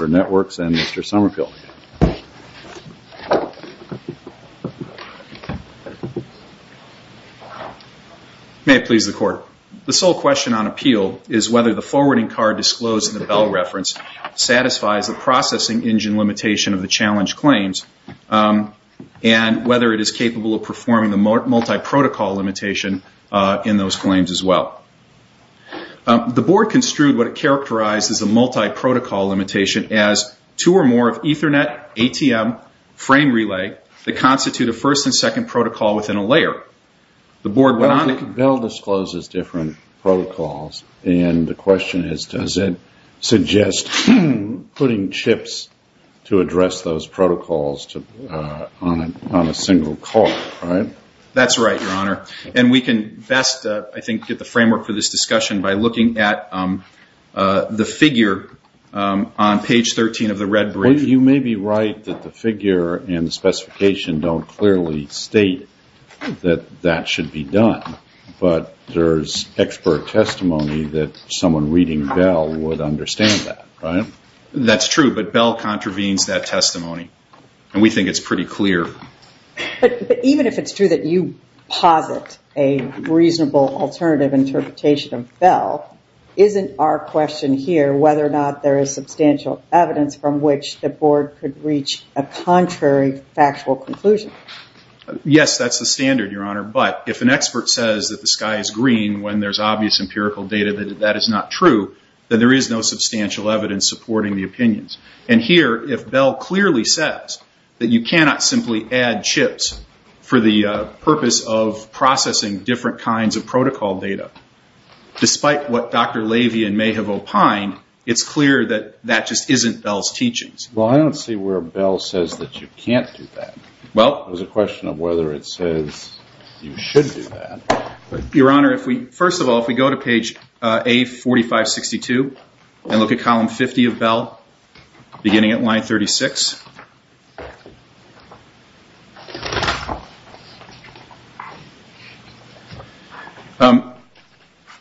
May it please the Court, the sole question on appeal is whether the forwarding card disclosed in the Bell reference satisfies the processing engine limitation of the challenge claims and whether it is capable of performing the multi-protocol limitation in those claims as well. The Board construed what it characterized as a multi-protocol limitation as two or more of Ethernet, ATM, frame relay that constitute a first and second protocol within a layer. The Board went on to... I think Bell discloses different protocols and the question is does it suggest putting chips to address those protocols on a single call, right? That's right, Your Honor, and we can best, I think, get the framework for this discussion by looking at the figure on page 13 of the red brief. You may be right that the figure and the specification don't clearly state that that should be done, but there's expert testimony that someone reading Bell would understand that, right? That's true, but Bell contravenes that testimony and we think it's pretty clear. But even if it's true that you posit a reasonable alternative interpretation of Bell, isn't our question here whether or not there is substantial evidence from which the Board could reach a contrary factual conclusion? Yes, that's the standard, Your Honor, but if an expert says that the sky is green when there's obvious empirical data that that is not true, then there is no substantial evidence supporting the opinions. And here, if Bell clearly says that you cannot simply add chips for the purpose of processing different kinds of protocol data, despite what Dr. Lavian may have opined, it's clear that that just isn't Bell's teachings. Well, I don't see where Bell says that you can't do that. Well, there's a question of whether it says you should do that. Your Honor, first of all, if we go to page A4562 and look at column 50 of Bell, beginning at line 36.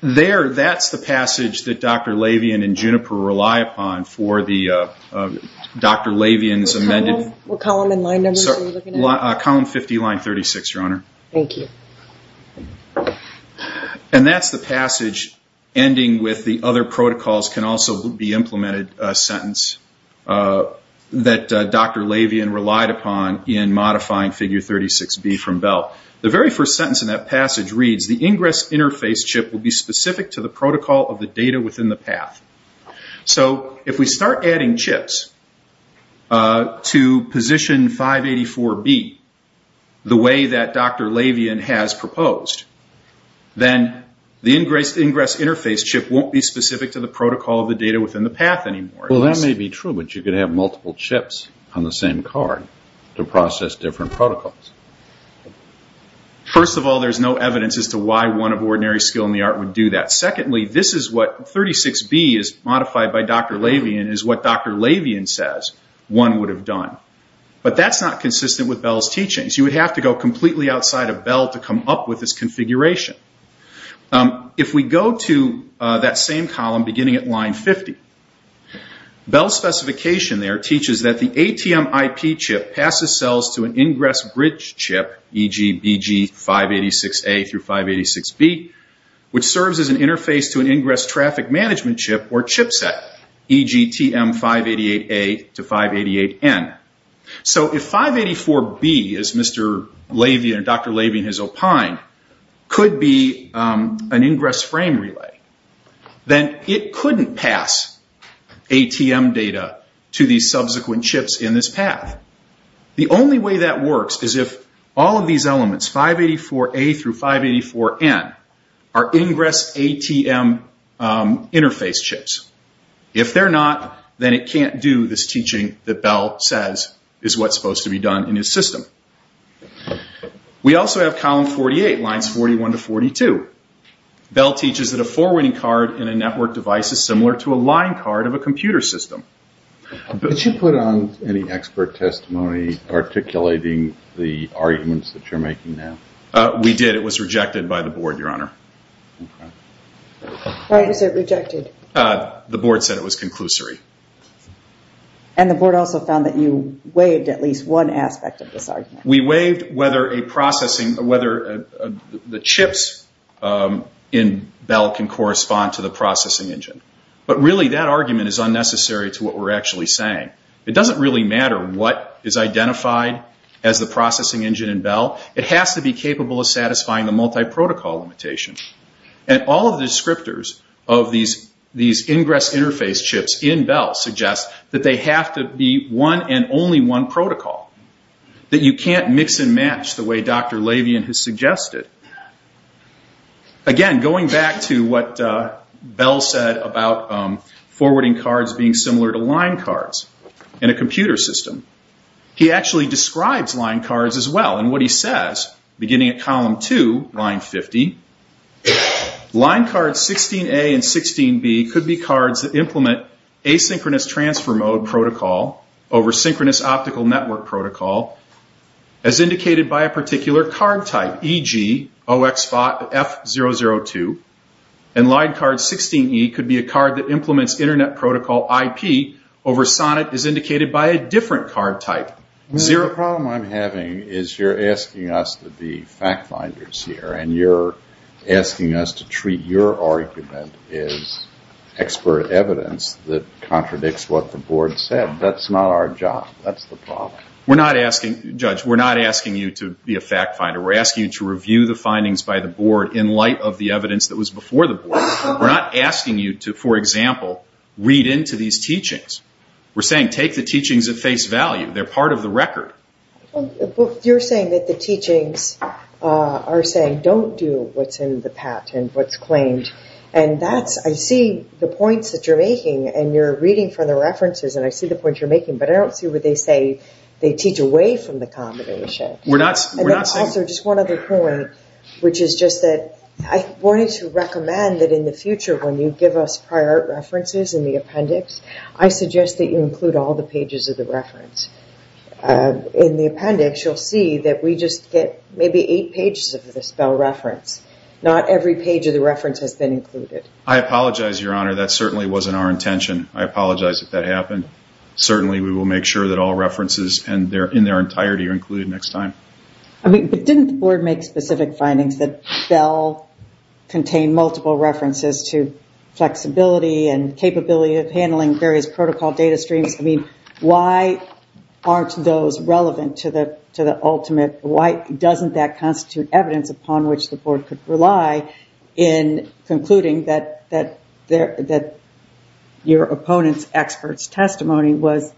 There, that's the passage that Dr. Lavian and Juniper rely upon for Dr. Lavian's amended What column and line numbers are we looking at? Column 50, line 36, Your Honor. Thank you. And that's the passage ending with the other protocols can also be implemented sentence that Dr. Lavian relied upon in modifying figure 36B from Bell. The very first sentence in that passage reads, the ingress interface chip will be specific to the protocol of the data within the path. So if we start adding chips to position 584B, the way that Dr. Lavian has proposed, then the ingress interface chip won't be specific to the protocol of the data within the path anymore. Well, that may be true, but you could have multiple chips on the same card to process different protocols. First of all, there's no evidence as to why one of ordinary skill in the art would do that. Secondly, this is what 36B is modified by Dr. Lavian is what Dr. Lavian says one would have done. But that's not consistent with Bell's teachings. You would have to go completely outside of Bell to come up with this configuration. If we go to that same column, beginning at line 50, Bell's specification there teaches that the ATM IP chip passes cells to an ingress bridge chip, e.g. BG586A through 586B, which serves as an interface to an ingress traffic management chip or chip set, e.g. TM588A to 588N. So if 584B, as Dr. Lavian has opined, could be an ingress frame relay, then it couldn't pass ATM data to the subsequent chips in this path. The only way that works is if all of these elements, 584A through 584N, are ingress ATM interface chips. If they're not, then it can't do this teaching that Bell says is what's supposed to be done in his system. We also have column 48, lines 41 to 42. Bell teaches that a forwarding card in a network device is similar to a line card of a computer system. Did you put on any expert testimony articulating the arguments that you're making now? We did. It was rejected by the board, Your Honor. Why was it rejected? The board said it was conclusory. And the board also found that you waived at least one aspect of this argument. We waived whether the chips in Bell can correspond to the processing engine. But really, that argument is unnecessary to what we're actually saying. It doesn't really matter what is identified as the processing engine in Bell. It has to be capable of satisfying the multiprotocol limitation. And all of the descriptors of these ingress interface chips in Bell suggest that they have to be one and only one protocol, that you can't mix and match the way Dr. Lavian has suggested. Again, going back to what Bell said about forwarding cards being similar to line cards in a computer system, he actually describes line cards as well. What he says, beginning at column 2, line 50, line cards 16A and 16B could be cards that implement asynchronous transfer mode protocol over synchronous optical network protocol, as indicated by a particular card type, e.g. 0xF002, and line card 16E could be a card that implements internet protocol IP over SONNET, as indicated by a different card type. Your problem I'm having is you're asking us to be fact finders here, and you're asking us to treat your argument as expert evidence that contradicts what the board said. That's not our job. That's the problem. We're not asking, Judge, we're not asking you to be a fact finder. We're asking you to review the findings by the board in light of the evidence that was before the board. We're not asking you to, for example, read into these teachings. We're saying take the teachings at face value. They're part of the record. Well, you're saying that the teachings are saying don't do what's in the patent, what's claimed, and that's, I see the points that you're making, and you're reading from the references, and I see the points you're making, but I don't see where they say they teach away from the combination. We're not saying... And that's also just one other point, which is just that I wanted to recommend that in the future, when you give us prior references in the appendix, I suggest that you include all the pages of the reference. In the appendix, you'll see that we just get maybe eight pages of the spell reference. Not every page of the reference has been included. I apologize, Your Honor. That certainly wasn't our intention. I apologize if that happened. Certainly, we will make sure that all references in their entirety are included next time. I mean, but didn't the board make specific findings that spell contained multiple references to flexibility and capability of handling various protocol data streams? I mean, why aren't those relevant to the ultimate? Why doesn't that constitute evidence upon which the board could rely in concluding that your opponent's expert's testimony was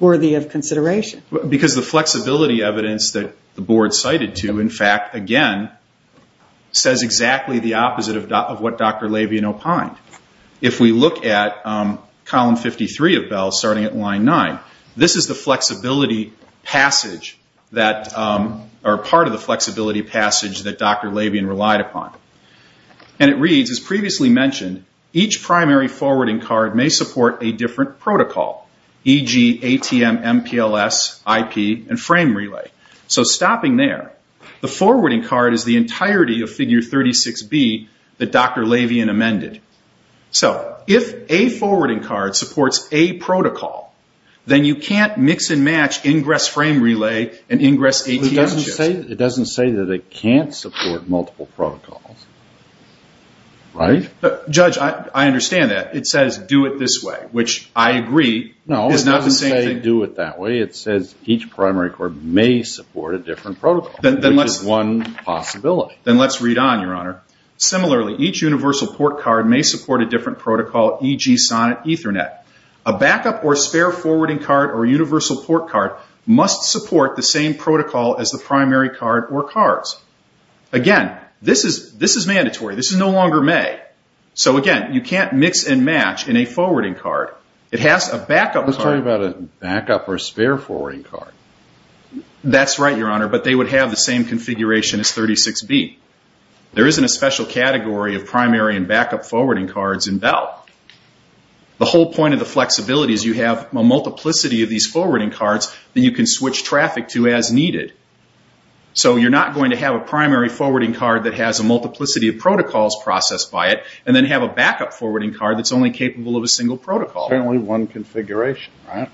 worthy of consideration? Because the flexibility evidence that the board cited to, in fact, again, says exactly the opposite of what Dr. Labian opined. If we look at column 53 of Bell, starting at line 9, this is the flexibility passage that, or part of the flexibility passage that Dr. Labian relied upon. And it reads, as previously mentioned, each primary forwarding card may support a different protocol, e.g. ATM, MPLS, IP, and frame relay. So stopping there, the forwarding card is the entirety of figure 36B that Dr. Labian amended. So if a forwarding card supports a protocol, then you can't mix and match ingress frame relay and ingress ATM chips. It doesn't say that it can't support multiple protocols, right? Judge, I understand that. It says do it this way, which I agree is not the same thing. No, it doesn't say do it that way. It says each primary card may support a different protocol, which is one possibility. Then let's read on, Your Honor. Similarly, each universal port card may support a different protocol, e.g. SONNET, Ethernet. A backup or spare forwarding card or universal port card must support the same protocol as the primary card or cards. Again, this is mandatory. This is no longer may. So again, you can't mix and match in a forwarding card. It has a backup card. Let's talk about a backup or spare forwarding card. That's right, Your Honor. But they would have the same configuration as 36B. There isn't a special category of primary and backup forwarding cards in Bell. The whole point of the flexibility is you have a multiplicity of these forwarding cards that you can switch traffic to as needed. So you're not going to have a primary forwarding card that has a multiplicity of protocols processed by it and then have a backup forwarding card that's only capable of a single protocol. Certainly one configuration, right?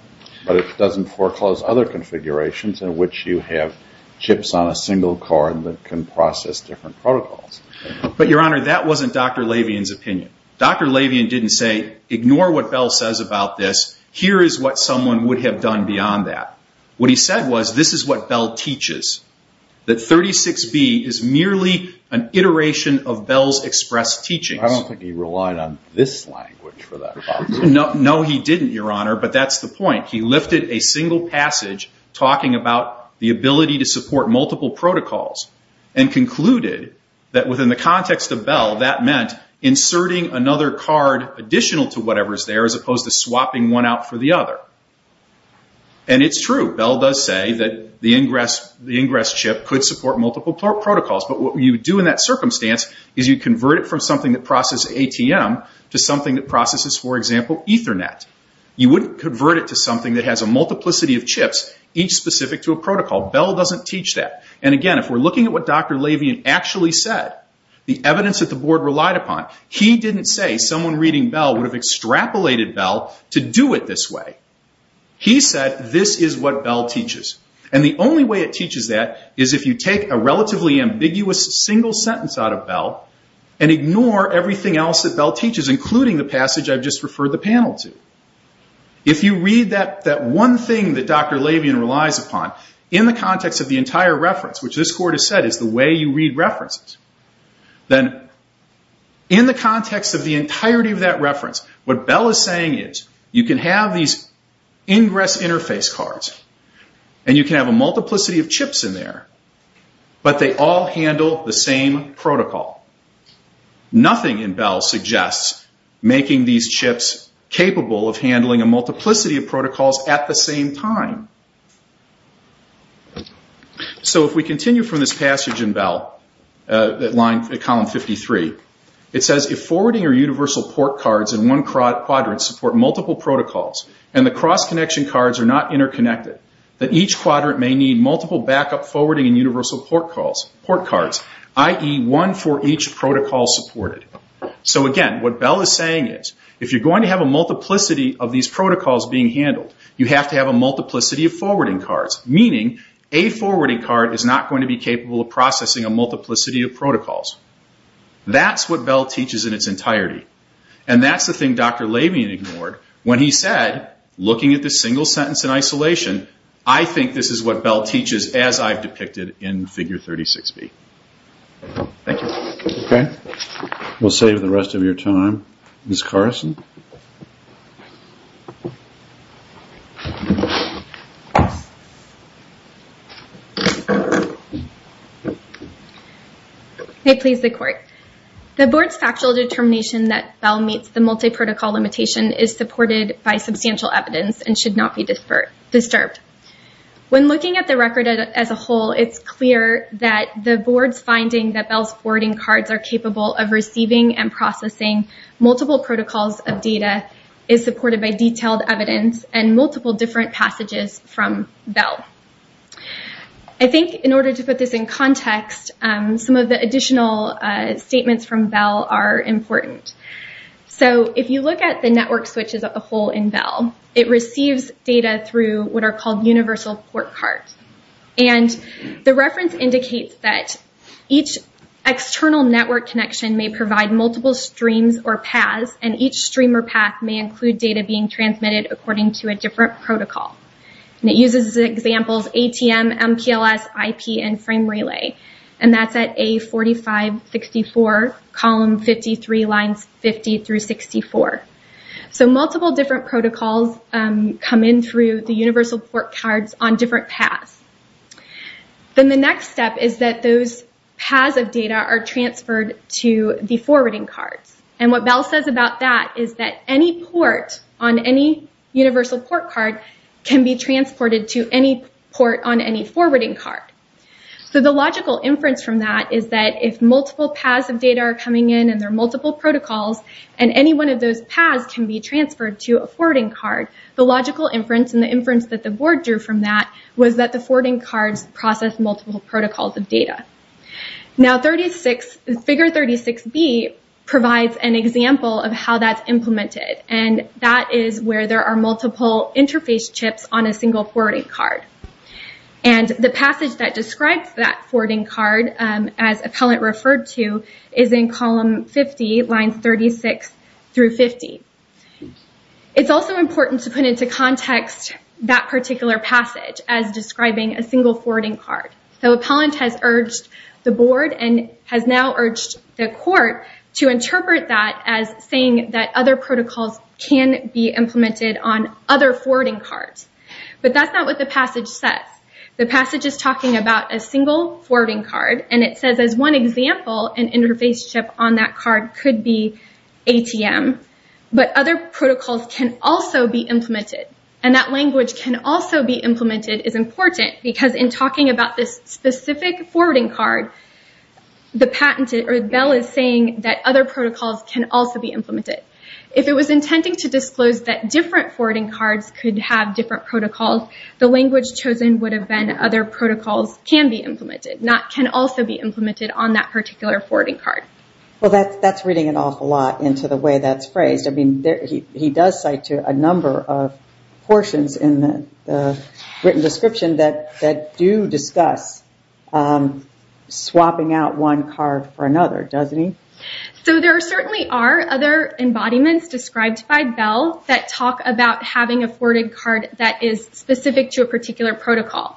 But it doesn't foreclose other configurations in which you have chips on a single card that can process different protocols. But Your Honor, that wasn't Dr. Lavian's opinion. Dr. Lavian didn't say, ignore what Bell says about this. Here is what someone would have done beyond that. What he said was, this is what Bell teaches. That 36B is merely an iteration of Bell's expressed teachings. I don't think he relied on this language for that. No, he didn't, Your Honor. But that's the point. He lifted a single passage talking about the ability to support multiple protocols and concluded that within the context of Bell, that meant inserting another card additional to whatever is there as opposed to swapping one out for the other. And it's true. Bell does say that the ingress chip could support multiple protocols. But what you do in that circumstance is you convert it from something that processes ATM to something that processes, for example, Ethernet. You wouldn't convert it to something that has a multiplicity of chips, each specific to a protocol. Bell doesn't teach that. And again, if we're looking at what Dr. Lavian actually said, the evidence that the board relied upon, he didn't say someone reading Bell would have extrapolated Bell to do it this way. He said, this is what Bell teaches. And the only way it teaches that is if you take a relatively ambiguous single sentence out of Bell and ignore everything else that Bell teaches, including the passage I've just referred the panel to. If you read that one thing that Dr. Lavian relies upon in the context of the entire reference, which this court has said is the way you read references, then in the context of the entirety of that reference, what Bell is saying is you can have these ingress interface cards and you can have a multiplicity of chips in there. But they all handle the same protocol. Nothing in Bell suggests making these chips capable of handling a multiplicity of protocols at the same time. So if we continue from this passage in Bell, at column 53, it says, if forwarding or universal port cards in one quadrant support multiple protocols and the cross-connection cards are interconnected, each quadrant may need multiple backup forwarding and universal port cards, i.e., one for each protocol supported. So again, what Bell is saying is if you're going to have a multiplicity of these protocols being handled, you have to have a multiplicity of forwarding cards, meaning a forwarding card is not going to be capable of processing a multiplicity of protocols. That's what Bell teaches in its entirety. And that's the thing Dr. Lavian ignored when he said, looking at this single sentence in isolation, I think this is what Bell teaches as I've depicted in figure 36B. Thank you. Okay. We'll save the rest of your time. Ms. Carson? May it please the Court. The Board's factual determination that Bell meets the multiprotocol limitation is supported by substantial evidence and should not be disturbed. When looking at the record as a whole, it's clear that the Board's finding that Bell's forwarding cards are capable of receiving and processing multiple protocols of data is supported by detailed evidence and multiple different passages from Bell. I think in order to put this in context, some of the additional statements from Bell are important. So if you look at the network switches as a whole in Bell, it receives data through what are called universal port cards. And the reference indicates that each external network connection may provide multiple streams or paths, and each stream or path may include data being transmitted according to a different protocol. It uses the examples ATM, MPLS, IP, and frame relay, and that's at A4564, column 53, lines 50 through 64. So multiple different protocols come in through the universal port cards on different paths. Then the next step is that those paths of data are transferred to the forwarding cards. And what Bell says about that is that any port on any universal port card can be transported to any port on any forwarding card. So the logical inference from that is that if multiple paths of data are coming in and there are multiple protocols, and any one of those paths can be transferred to a forwarding card, the logical inference and the inference that the Board drew from that was that the forwarding cards process multiple protocols of data. Now figure 36B provides an example of how that's implemented, and that is where there are multiple interface chips on a single forwarding card. And the passage that describes that forwarding card, as Appellant referred to, is in column 50, lines 36 through 50. It's also important to put into context that particular passage as describing a single forwarding card. So Appellant has urged the Board, and has now urged the Court, to interpret that as saying that other protocols can be implemented on other forwarding cards. But that's not what the passage says. The passage is talking about a single forwarding card, and it says as one example, an interface chip on that card could be ATM, but other protocols can also be implemented. And that language can also be implemented is important, because in talking about this specific forwarding card, Bell is saying that other protocols can also be implemented. If it was intending to disclose that different forwarding cards could have different protocols, the language chosen would have been other protocols can be implemented, not can also be implemented on that particular forwarding card. Well, that's reading an awful lot into the way that's phrased. He does cite a number of portions in the written description that do discuss swapping out one card for another, doesn't he? So there certainly are other embodiments described by Bell that talk about having a forwarding card that is specific to a particular protocol.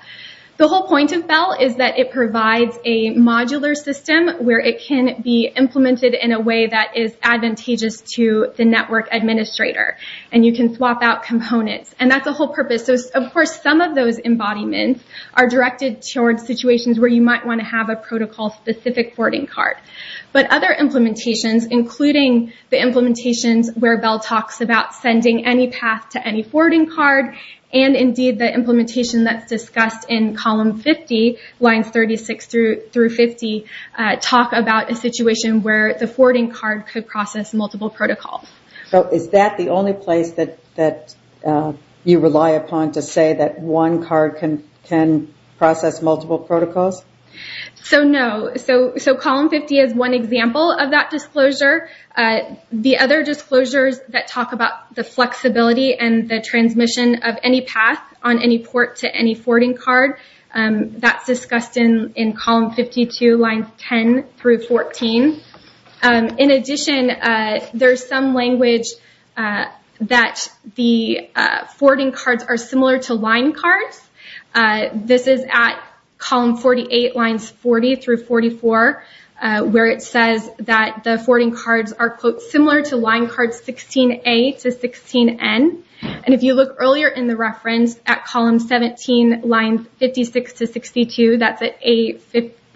The whole point of Bell is that it provides a modular system where it can be implemented in a way that is advantageous to the network administrator, and you can swap out components. And that's the whole purpose. Of course, some of those embodiments are directed towards situations where you might want to have a protocol-specific forwarding card. But other implementations, including the implementations where Bell talks about sending any path to any forwarding card, and indeed the implementation that's discussed in column 50, lines 36 through 50, talk about a situation where the forwarding card could process multiple protocols. So is that the only place that you rely upon to say that one card can process multiple protocols? So no. So column 50 is one example of that disclosure. The other disclosures that talk about the flexibility and the transmission of any path on any port to any forwarding card, that's discussed in column 52, lines 10 through 14. In addition, there's some language that the forwarding cards are similar to line cards. This is at column 48, lines 40 through 44, where it says that the forwarding cards are similar to line cards 16A to 16N. And if you look earlier in the reference, at column 17, lines 56 to 62, that's at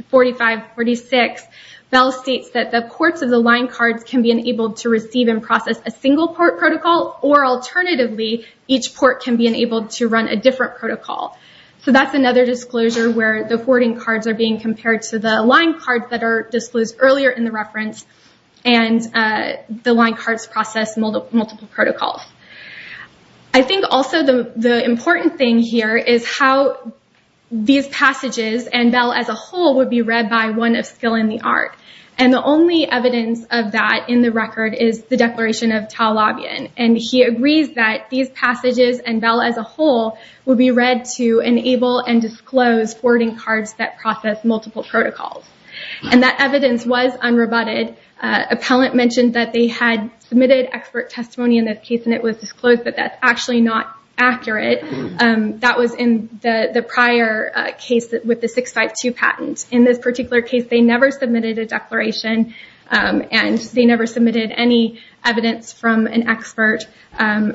45, 46, Bell states that the ports of the line cards can be enabled to receive and process a single port protocol, or alternatively, each port can be enabled to run a different protocol. So that's another disclosure where the forwarding cards are being compared to the line cards that are disclosed earlier in the reference, and the line cards process multiple protocols. I think also the important thing here is how these passages, and Bell as a whole, would be read by one of skill in the art. And the only evidence of that in the record is the Declaration of Taulabian. And he agrees that these passages, and Bell as a whole, would be read to enable and disclose forwarding cards that process multiple protocols. And that evidence was unrebutted. Appellant mentioned that they had submitted expert testimony in that case, and it was actually not accurate. That was in the prior case with the 652 patent. In this particular case, they never submitted a declaration, and they never submitted any evidence from an expert,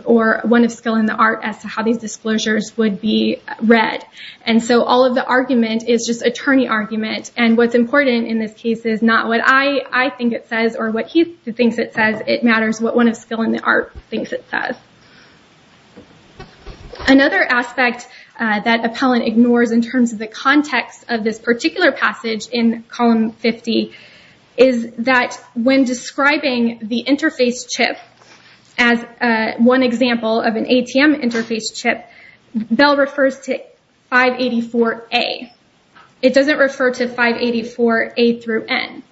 or one of skill in the art, as to how these disclosures would be read. And so all of the argument is just attorney argument. And what's important in this case is not what I think it says, or what he thinks it says. It matters what one of skill in the art thinks it says. Another aspect that Appellant ignores in terms of the context of this particular passage in column 50 is that when describing the interface chip as one example of an ATM interface chip, Bell refers to 584A. It doesn't refer to 584A through N.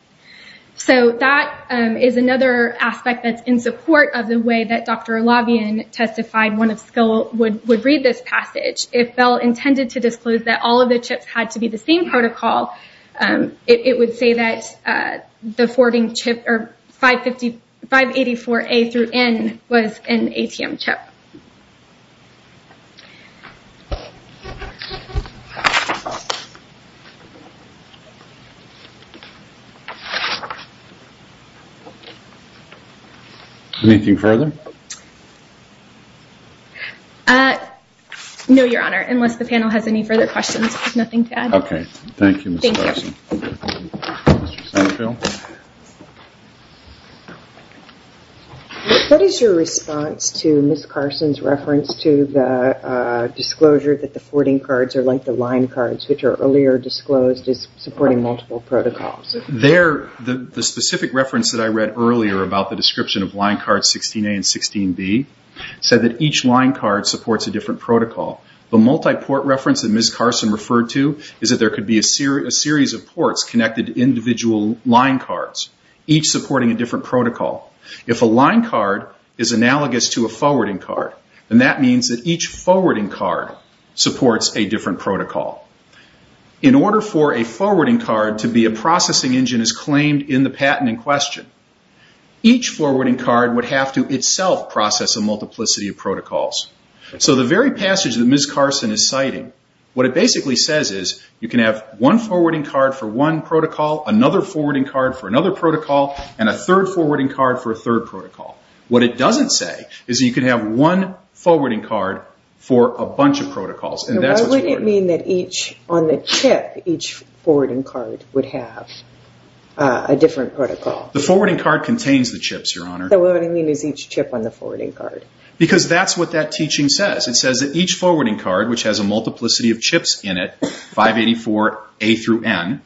So that is another aspect that's in support of the way that Dr. Labian testified one of skill would read this passage. If Bell intended to disclose that all of the chips had to be the same protocol, it would say that the forwarding chip, or 584A through N was an ATM chip. Anything further? No, Your Honor. Unless the panel has any further questions, I have nothing to add. OK. Thank you, Ms. Carson. What is your response to Ms. Carson's reference to the disclosure that the forwarding cards are like the line cards, which are earlier disclosed as supporting multiple protocols? The specific reference that I read earlier about the description of line cards 16A and 16B said that each line card supports a different protocol. The multiport reference that Ms. Carson referred to is that there could be a series of ports connected to individual line cards, each supporting a different protocol. If a line card is analogous to a forwarding card, then that means that each forwarding card supports a different protocol. In order for a forwarding card to be a processing engine, as claimed in the patent in question, each forwarding card would have to itself process a multiplicity of protocols. The very passage that Ms. Carson is citing, what it basically says is you can have one forwarding card for one protocol, another forwarding card for another protocol, and a third forwarding card for a third protocol. What it doesn't say is that you can have one forwarding card for a bunch of protocols. Why would it mean that on the chip, each forwarding card would have a different protocol? The forwarding card contains the chips, Your Honor. What I mean is each chip on the forwarding card. Because that's what that teaching says. It says that each forwarding card, which has a multiplicity of chips in it, 584A through N,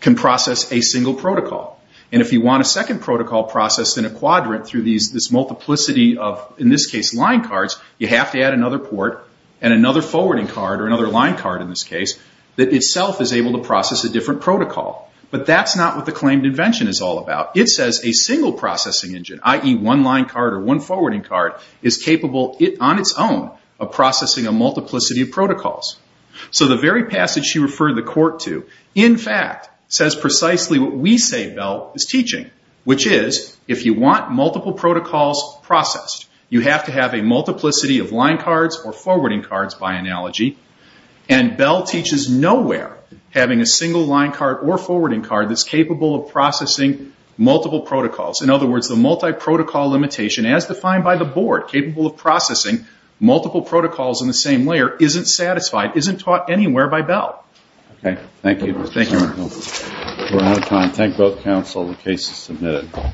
can process a single protocol. If you want a second protocol processed in a quadrant through this multiplicity of, in to add another port and another forwarding card, or another line card in this case, that itself is able to process a different protocol. But that's not what the claimed invention is all about. It says a single processing engine, i.e. one line card or one forwarding card, is capable on its own of processing a multiplicity of protocols. So the very passage she referred the court to, in fact, says precisely what we say Bell is teaching, which is if you want multiple protocols processed, you have to have a multiplicity of line cards or forwarding cards, by analogy. And Bell teaches nowhere having a single line card or forwarding card that's capable of processing multiple protocols. In other words, the multi-protocol limitation as defined by the board, capable of processing multiple protocols in the same layer, isn't satisfied, isn't taught anywhere by Bell. Okay. Thank you. Thank you. We're out of time. Thank both counsel. The case is submitted.